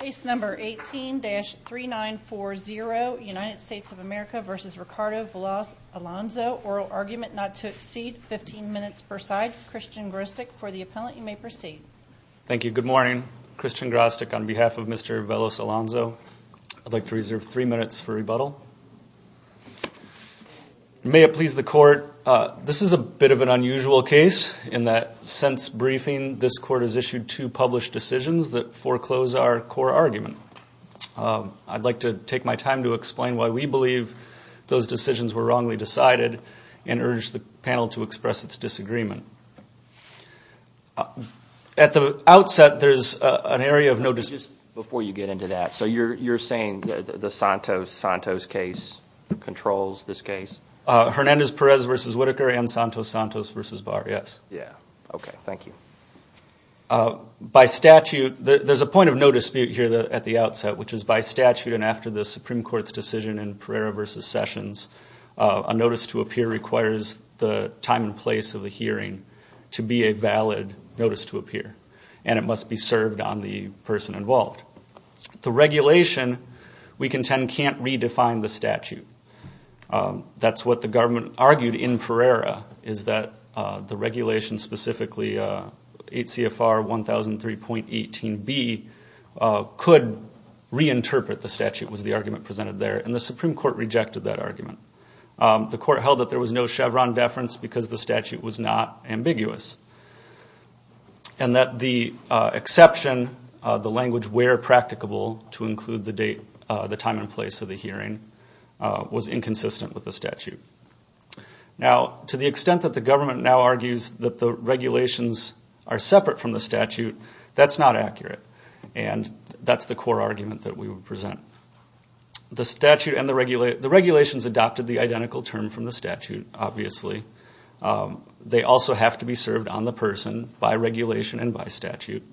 Case number 18-3940, United States of America v. Ricardo Veloz-Alonzo. Oral argument not to exceed 15 minutes per side. Christian Grostek, for the appellant, you may proceed. Thank you. Good morning. Christian Grostek on behalf of Mr. Veloz-Alonzo. I'd like to reserve three minutes for rebuttal. May it please the court, this is a bit of an unusual case in that since briefing, this court has issued two published decisions that foreclose our core argument. I'd like to take my time to explain why we believe those decisions were wrongly decided and urge the panel to express its disagreement. At the outset, there's an area of no dispute. Just before you get into that, so you're saying the Santos-Santos case controls this case? Hernandez-Perez v. Whitaker and Santos-Santos v. Barr, yes. Yeah, okay, thank you. By statute, there's a point of no dispute here at the outset, which is by statute and after the Supreme Court's decision in Pereira v. Sessions, a notice to appear requires the time and place of the hearing to be a valid notice to appear, and it must be served on the person involved. That's what the government argued in Pereira, is that the regulation specifically 8 CFR 1003.18b could reinterpret the statute was the argument presented there, and the Supreme Court rejected that argument. The court held that there was no Chevron deference because the statute was not ambiguous, and that the exception, the language where practicable to include the time and place of the hearing was inconsistent with the statute. Now, to the extent that the government now argues that the regulations are separate from the statute, that's not accurate, and that's the core argument that we would present. The regulations adopted the identical term from the statute, obviously. They also have to be served on the person by regulation and by statute,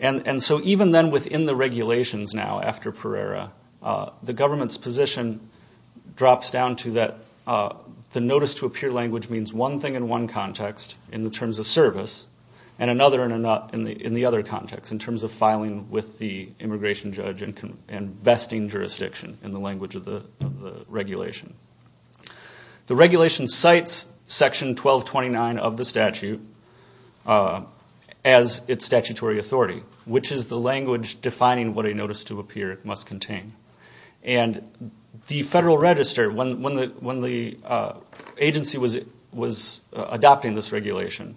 and so even then within the regulations now after Pereira, the government's position drops down to that the notice to appear language means one thing in one context in the terms of service, and another in the other context in terms of filing with the immigration judge and vesting jurisdiction in the language of the regulation. The regulation cites Section 1229 of the statute as its statutory authority, which is the language defining what a notice to appear must contain. And the Federal Register, when the agency was adopting this regulation,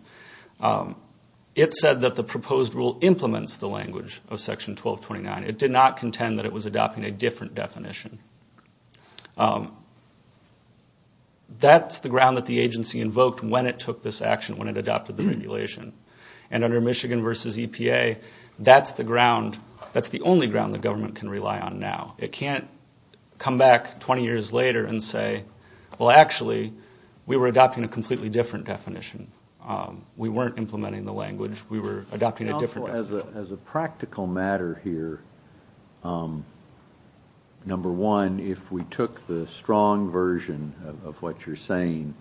it said that the proposed rule implements the language of Section 1229. It did not contend that it was adopting a different definition. That's the ground that the agency invoked when it took this action, when it adopted the regulation. And under Michigan versus EPA, that's the only ground the government can rely on now. It can't come back 20 years later and say, well, actually, we were adopting a completely different definition. We weren't implementing the language. We were adopting a different definition. As a practical matter here, number one, if we took the strong version of what you're saying,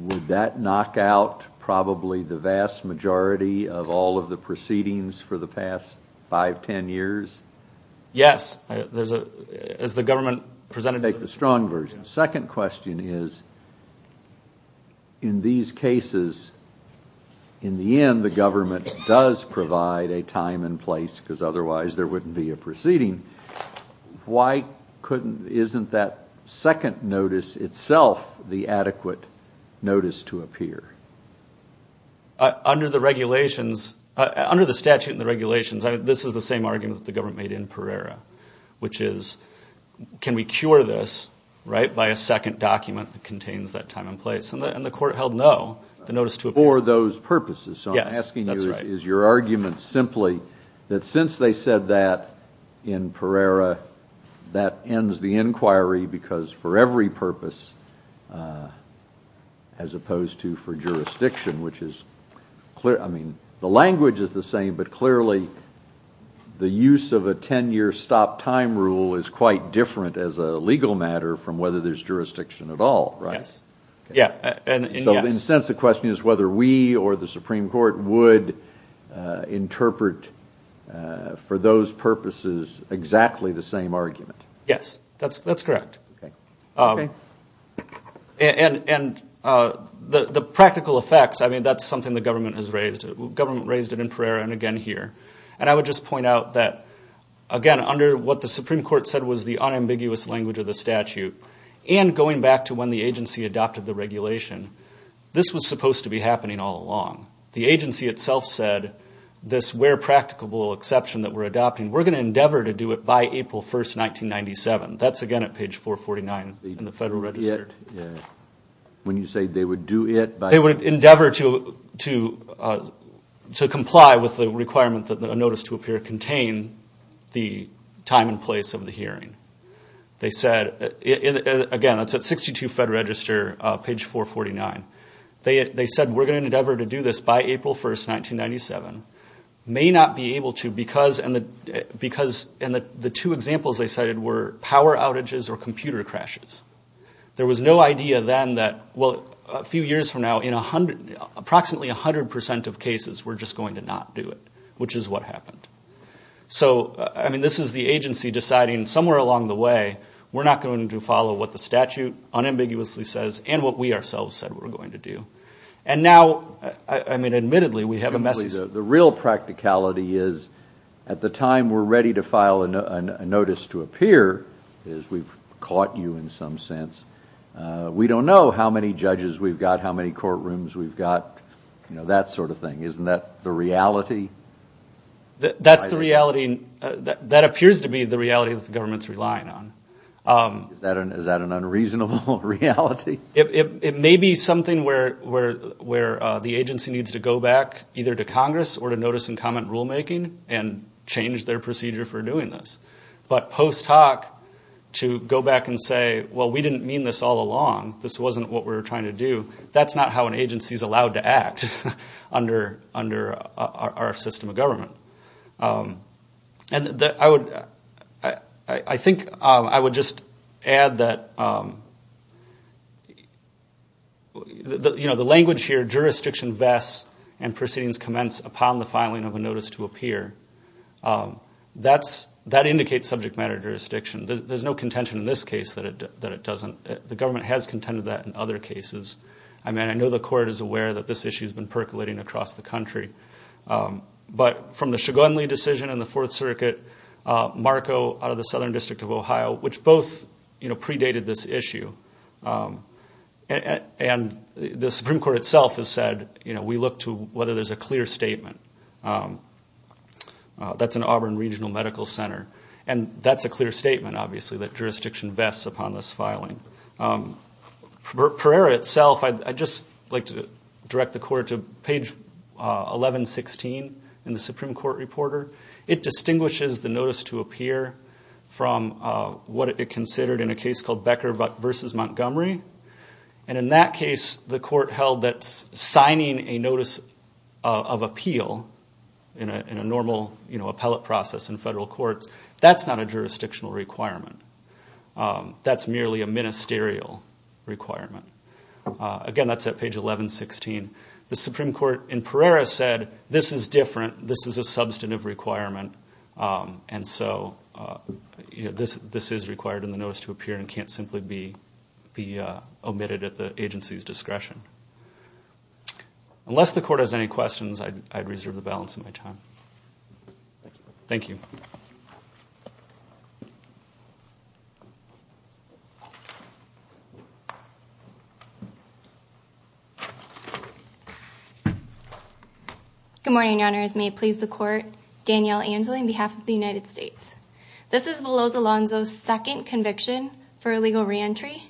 would that knock out probably the vast majority of all of the proceedings for the past five, ten years? Yes. As the government presented it. Take the strong version. Second question is, in these cases, in the end the government does provide a time and place because otherwise there wouldn't be a proceeding. Why isn't that second notice itself the adequate notice to appear? Under the regulations, under the statute and the regulations, this is the same argument the government made in Pereira, which is can we cure this by a second document that contains that time and place? And the court held no, the notice to appear. For those purposes. So I'm asking you, is your argument simply that since they said that in Pereira that ends the inquiry because for every purpose, as opposed to for jurisdiction, which is clear, I mean the language is the same, but clearly the use of a ten year stop time rule is quite different as a legal matter from whether there's jurisdiction at all, right? Yes. So in a sense the question is whether we or the Supreme Court would interpret for those purposes exactly the same argument. Yes, that's correct. And the practical effects, I mean that's something the government has raised. The government raised it in Pereira and again here. And I would just point out that, again, under what the Supreme Court said was the unambiguous language of the statute and going back to when the agency adopted the regulation, this was supposed to be happening all along. The agency itself said this where practicable exception that we're adopting, we're going to endeavor to do it by April 1, 1997. That's again at page 449 in the Federal Register. When you say they would do it by? They would endeavor to comply with the requirement that a notice to appear contain the time and place of the hearing. They said, again, that's at 62 Federal Register, page 449. They said we're going to endeavor to do this by April 1, 1997. May not be able to because the two examples they cited were power outages or computer crashes. There was no idea then that, well, a few years from now, in approximately 100% of cases we're just going to not do it, which is what happened. So, I mean, this is the agency deciding somewhere along the way, we're not going to follow what the statute unambiguously says and what we ourselves said we were going to do. And now, I mean, admittedly, we have a message. The real practicality is at the time we're ready to file a notice to appear, is we've caught you in some sense. We don't know how many judges we've got, how many courtrooms we've got, you know, that sort of thing. Isn't that the reality? That's the reality. That appears to be the reality that the government's relying on. Is that an unreasonable reality? It may be something where the agency needs to go back either to Congress or to notice and comment rulemaking and change their procedure for doing this. But post hoc, to go back and say, well, we didn't mean this all along, this wasn't what we were trying to do, that's not how an agency is allowed to act under our system of government. And I think I would just add that, you know, the language here, jurisdiction vests and proceedings commence upon the filing of a notice to appear, that indicates subject matter jurisdiction. There's no contention in this case that it doesn't. The government has contended that in other cases. I mean, I know the court is aware that this issue has been percolating across the country. But from the Shugunley decision in the Fourth Circuit, Marco out of the Southern District of Ohio, which both, you know, predated this issue, and the Supreme Court itself has said, you know, we look to whether there's a clear statement. That's an Auburn Regional Medical Center. And that's a clear statement, obviously, that jurisdiction vests upon this filing. Pereira itself, I'd just like to direct the court to page 1116 in the Supreme Court Reporter. It distinguishes the notice to appear from what it considered in a case called Becker v. Montgomery. And in that case, the court held that signing a notice of appeal in a normal, you know, appellate process in federal courts, that's not a jurisdictional requirement. That's merely a ministerial requirement. Again, that's at page 1116. The Supreme Court in Pereira said, this is different. This is a substantive requirement. And so, you know, this is required in the notice to appear and can't simply be omitted at the agency's discretion. Unless the court has any questions, I'd reserve the balance of my time. Thank you. Thank you. Good morning, Your Honors. May it please the Court. Danielle Angeli, on behalf of the United States. This is Beloso Alonzo's second conviction for illegal reentry.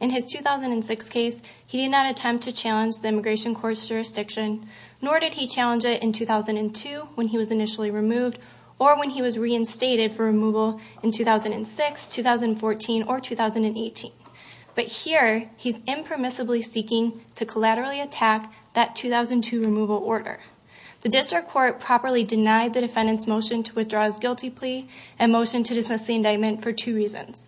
In his 2006 case, he did not attempt to challenge the Immigration Court's jurisdiction, nor did he challenge it in 2002, when he was initially removed, or when he was reinstated for removal in 2006, 2014, or 2018. But here, he's impermissibly seeking to collaterally attack that 2002 removal order. The District Court properly denied the defendant's motion to withdraw his guilty plea and motion to dismiss the indictment for two reasons.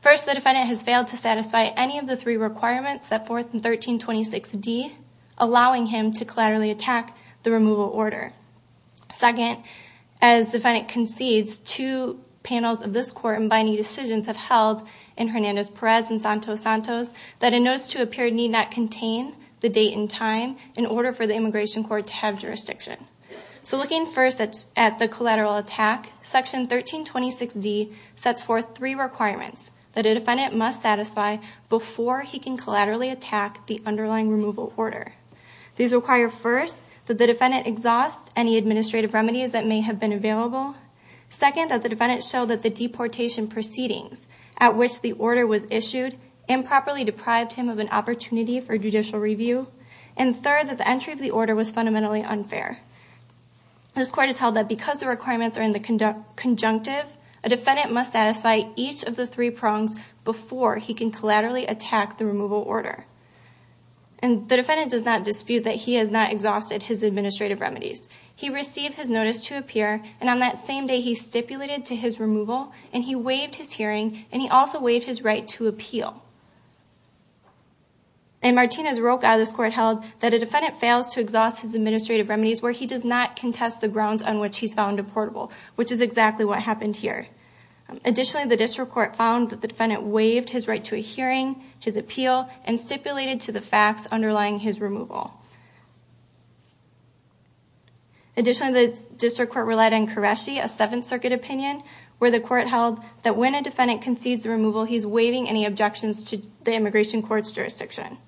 First, the defendant has failed to satisfy any of the three requirements set forth in 1326D, allowing him to collaterally attack the removal order. Second, as the defendant concedes, two panels of this Court in binding decisions have held in Hernandez-Perez and Santos-Santos, that a notice to appear need not contain the date and time in order for the Immigration Court to have jurisdiction. So looking first at the collateral attack, Section 1326D sets forth three requirements that a defendant must satisfy before he can collaterally attack the underlying removal order. These require, first, that the defendant exhaust any administrative remedies that may have been available. Second, that the defendant show that the deportation proceedings at which the order was issued improperly deprived him of an opportunity for judicial review. And third, that the entry of the order was fundamentally unfair. This Court has held that because the requirements are in the conjunctive, a defendant must satisfy each of the three prongs before he can collaterally attack the removal order. And the defendant does not dispute that he has not exhausted his administrative remedies. He received his notice to appear, and on that same day he stipulated to his removal, and he waived his hearing, and he also waived his right to appeal. And Martinez-Roca of this Court held that a defendant fails to exhaust his administrative remedies where he does not contest the grounds on which he's found deportable, which is exactly what happened here. Additionally, the District Court found that the defendant waived his right to a hearing, his appeal, and stipulated to the facts underlying his removal. Additionally, the District Court relied on Qureshi, a Seventh Circuit opinion, where the Court held that when a defendant concedes removal, he's waiving any objections to the immigration court's jurisdiction.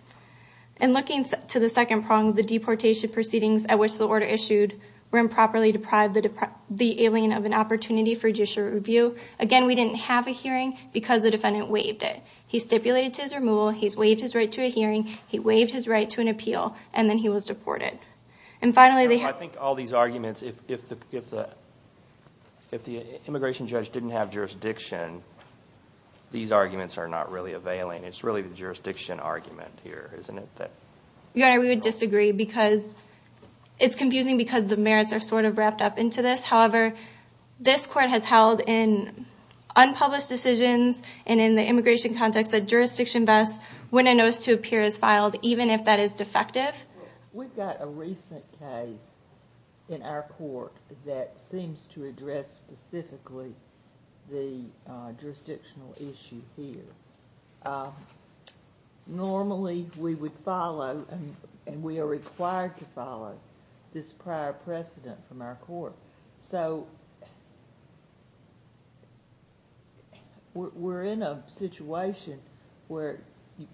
And looking to the second prong, the deportation proceedings at which the order issued were improperly deprived the alien of an opportunity for judicial review. Again, we didn't have a hearing because the defendant waived it. He stipulated to his removal, he's waived his right to a hearing, he waived his right to an appeal, and then he was deported. And finally, they have... I think all these arguments, if the immigration judge didn't have jurisdiction, these arguments are not really availing. It's really the jurisdiction argument here, isn't it? Your Honor, we would disagree because it's confusing because the merits are sort of wrapped up into this. However, this Court has held in unpublished decisions and in the immigration context that jurisdiction best, when a notice to appear is filed, even if that is defective. We've got a recent case in our court that seems to address specifically the jurisdictional issue here. Normally, we would follow, and we are required to follow, this prior precedent from our court. So, we're in a situation where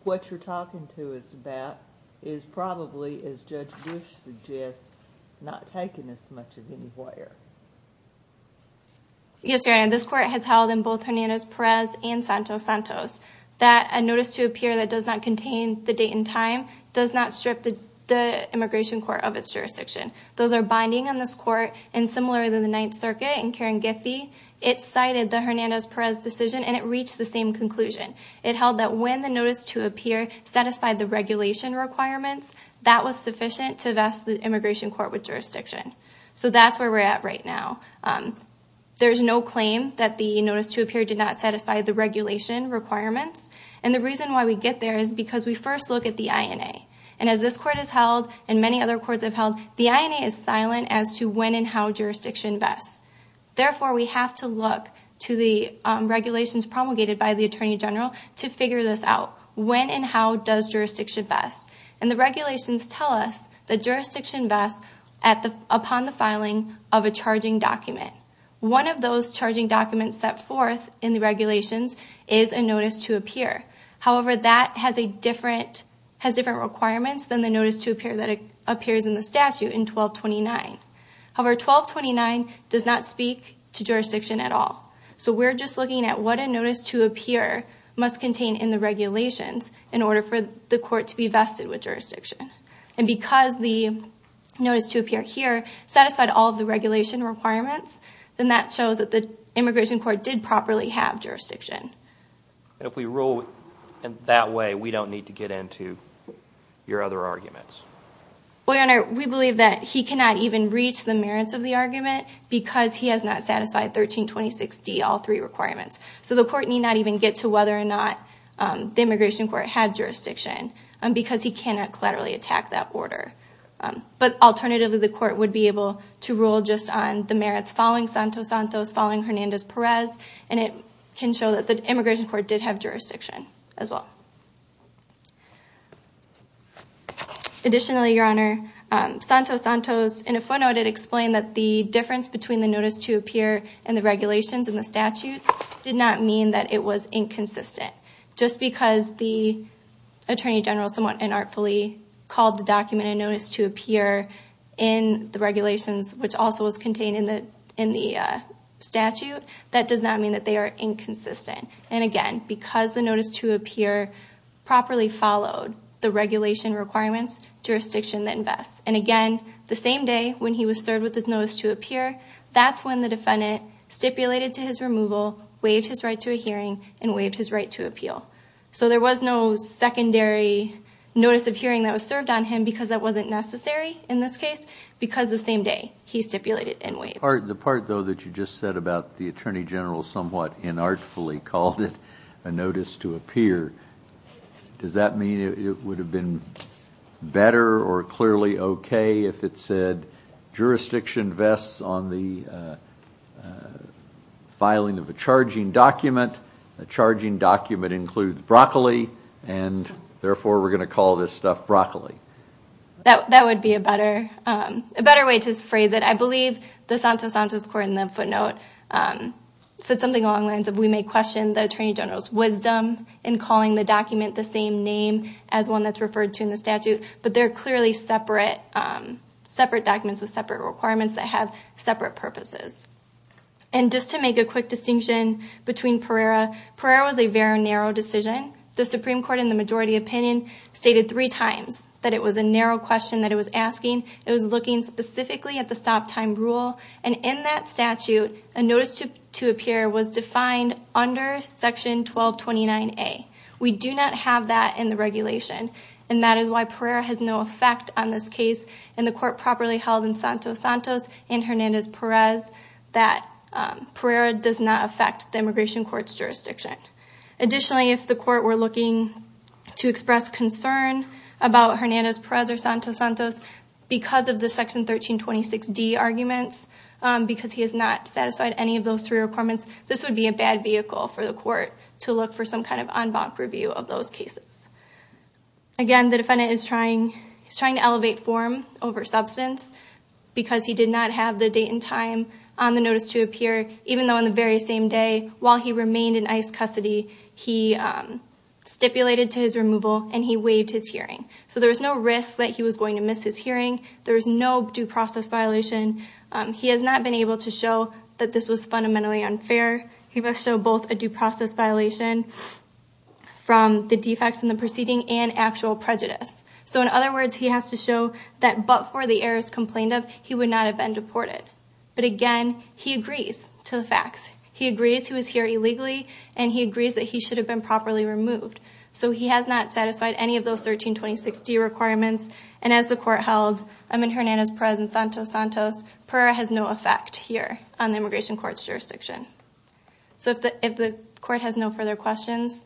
what you're talking to us about is probably, as Judge Bush suggests, not taken as much of anywhere. Yes, Your Honor, this Court has held in both Hernandez-Perez and Santos-Santos that a notice to appear that does not contain the date and time does not strip the immigration court of its jurisdiction. Those are binding on this Court, and similar to the Ninth Circuit and Karen Giffey, it cited the Hernandez-Perez decision and it reached the same conclusion. It held that when the notice to appear satisfied the regulation requirements, that was sufficient to vest the immigration court with jurisdiction. So, that's where we're at right now. There's no claim that the notice to appear did not satisfy the regulation requirements. And the reason why we get there is because we first look at the INA. And as this Court has held, and many other courts have held, the INA is silent as to when and how jurisdiction vests. Therefore, we have to look to the regulations promulgated by the Attorney General to figure this out. When and how does jurisdiction vest? And the regulations tell us that jurisdiction vests upon the filing of a charging document. One of those charging documents set forth in the regulations is a notice to appear. However, that has different requirements than the notice to appear that appears in the statute in 1229. However, 1229 does not speak to jurisdiction at all. So, we're just looking at what a notice to appear must contain in the regulations in order for the court to be vested with jurisdiction. And because the notice to appear here satisfied all of the regulation requirements, then that shows that the immigration court did properly have jurisdiction. And if we rule that way, we don't need to get into your other arguments? Well, Your Honor, we believe that he cannot even reach the merits of the argument because he has not satisfied 1326D, all three requirements. So, the court need not even get to whether or not the immigration court had jurisdiction because he cannot collaterally attack that order. But alternatively, the court would be able to rule just on the merits following Santos-Santos, following Hernandez-Perez, and it can show that the immigration court did have jurisdiction as well. Additionally, Your Honor, Santos-Santos, in a footnote, it explained that the difference between the notice to appear and the regulations and the statutes did not mean that it was inconsistent. Just because the Attorney General somewhat unartfully called the document a notice to appear in the regulations, which also was contained in the statute, that does not mean that they are inconsistent. And again, because the notice to appear properly followed the regulation requirements, jurisdiction then vests. And again, the same day when he was served with his notice to appear, that's when the defendant stipulated to his removal, waived his right to a hearing, and waived his right to appeal. So there was no secondary notice of hearing that was served on him because that wasn't necessary in this case because the same day he stipulated and waived. The part, though, that you just said about the Attorney General somewhat unartfully called it a notice to appear, does that mean it would have been better or clearly okay if it said, Jurisdiction vests on the filing of a charging document. A charging document includes broccoli, and therefore we're going to call this stuff broccoli. That would be a better way to phrase it. I believe the Santos-Santos court in the footnote said something along the lines of, we may question the Attorney General's wisdom in calling the document the same name as one that's referred to in the statute, but they're clearly separate documents with separate requirements that have separate purposes. And just to make a quick distinction between Pereira, Pereira was a very narrow decision. The Supreme Court, in the majority opinion, stated three times that it was a narrow question that it was asking. It was looking specifically at the stop-time rule. And in that statute, a notice to appear was defined under Section 1229A. We do not have that in the regulation, and that is why Pereira has no effect on this case. And the court properly held in Santos-Santos and Hernandez-Perez that Pereira does not affect the immigration court's jurisdiction. Additionally, if the court were looking to express concern about Hernandez-Perez or Santos-Santos, because of the Section 1326D arguments, because he has not satisfied any of those three requirements, this would be a bad vehicle for the court to look for some kind of en banc review of those cases. Again, the defendant is trying to elevate form over substance because he did not have the date and time on the notice to appear, even though on the very same day, while he remained in ICE custody, he stipulated to his removal and he waived his hearing. So there was no risk that he was going to miss his hearing. There was no due process violation. He has not been able to show that this was fundamentally unfair. He must show both a due process violation from the defects in the proceeding and actual prejudice. So in other words, he has to show that but for the errors complained of, he would not have been deported. But again, he agrees to the facts. He agrees he was here illegally, and he agrees that he should have been properly removed. So he has not satisfied any of those 1326D requirements. And as the court held, I'm in Hernandez's presence, Santos-Santos, PERA has no effect here on the Immigration Court's jurisdiction. So if the court has no further questions,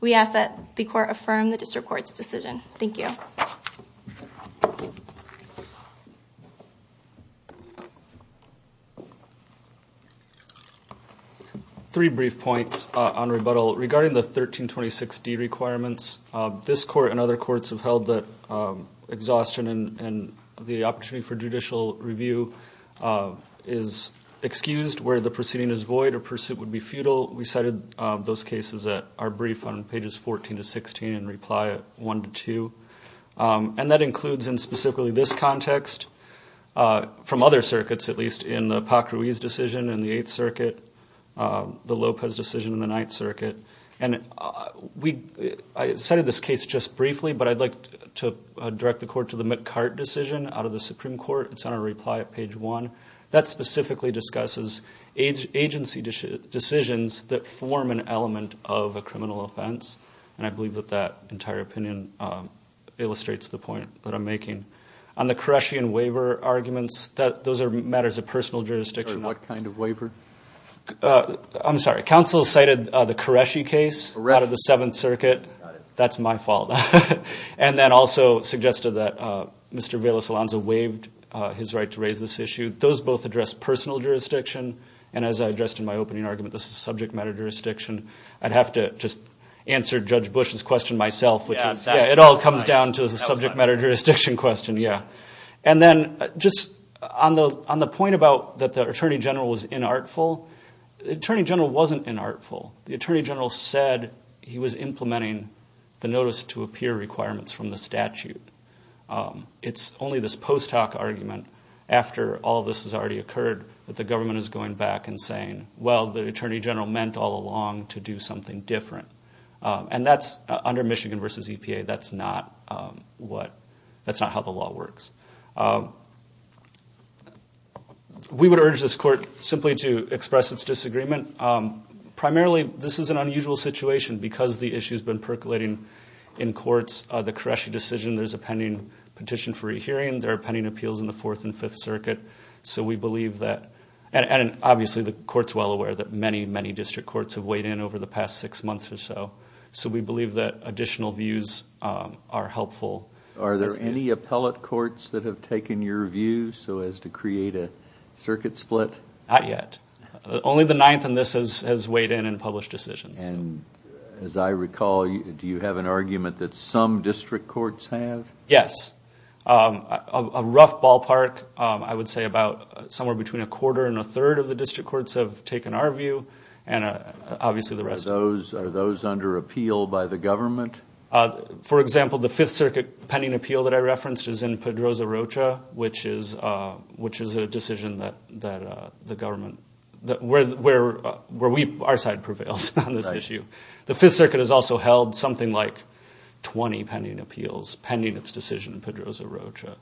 we ask that the court affirm the District Court's decision. Thank you. Thank you. Three brief points on rebuttal. Regarding the 1326D requirements, this court and other courts have held that exhaustion and the opportunity for judicial review is excused where the proceeding is void or pursuit would be futile. We cited those cases that are brief on pages 14 to 16 and reply 1 to 2. And that includes in specifically this context, from other circuits at least, in the Pacruiz decision, in the Eighth Circuit, the Lopez decision in the Ninth Circuit. And I cited this case just briefly, but I'd like to direct the court to the McCart decision out of the Supreme Court. It's on our reply at page 1. That specifically discusses agency decisions that form an element of a criminal offense. And I believe that that entire opinion illustrates the point that I'm making. On the Qureshi and Waiver arguments, those are matters of personal jurisdiction. What kind of waiver? I'm sorry. Counsel cited the Qureshi case out of the Seventh Circuit. That's my fault. And then also suggested that Mr. Velas-Alonzo waived his right to raise this issue. Those both address personal jurisdiction. And as I addressed in my opening argument, this is subject matter jurisdiction. I'd have to just answer Judge Bush's question myself. It all comes down to the subject matter jurisdiction question, yeah. And then just on the point about that the Attorney General was inartful, the Attorney General wasn't inartful. The Attorney General said he was implementing the notice to appear requirements from the statute. It's only this post hoc argument, after all this has already occurred, that the government is going back and saying, well, the Attorney General meant all along to do something different. And that's under Michigan v. EPA. That's not how the law works. We would urge this court simply to express its disagreement. Primarily, this is an unusual situation because the issue has been percolating in courts. The Qureshi decision, there's a pending petition for a hearing. There are pending appeals in the Fourth and Fifth Circuit. So we believe that, and obviously the court's well aware that many, many district courts have weighed in over the past six months or so. So we believe that additional views are helpful. Are there any appellate courts that have taken your view so as to create a circuit split? Not yet. Only the Ninth and this has weighed in and published decisions. And as I recall, do you have an argument that some district courts have? Yes. A rough ballpark, I would say about somewhere between a quarter and a third of the district courts have taken our view and obviously the rest. Are those under appeal by the government? For example, the Fifth Circuit pending appeal that I referenced is in Pedroza-Rocha, which is a decision that the government, where our side prevailed on this issue. The Fifth Circuit has also held something like 20 pending appeals pending its decision in Pedroza-Rocha.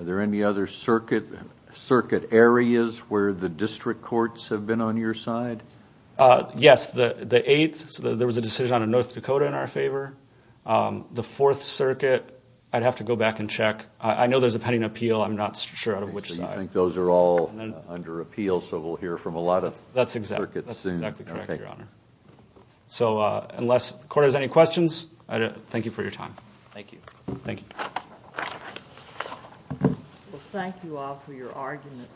Are there any other circuit areas where the district courts have been on your side? Yes. The Eighth, there was a decision on North Dakota in our favor. The Fourth Circuit, I'd have to go back and check. I know there's a pending appeal. I'm not sure out of which side. So you think those are all under appeal, so we'll hear from a lot of circuits. That's exactly correct, Your Honor. So unless the court has any questions, thank you for your time. Thank you. Thank you. Well, thank you all for your arguments.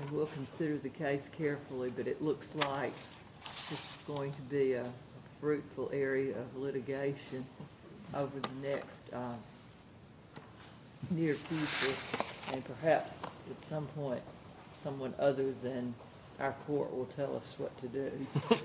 And we'll consider the case carefully, but it looks like this is going to be a fruitful area of litigation over the next near future. And perhaps at some point someone other than our court will tell us what to do.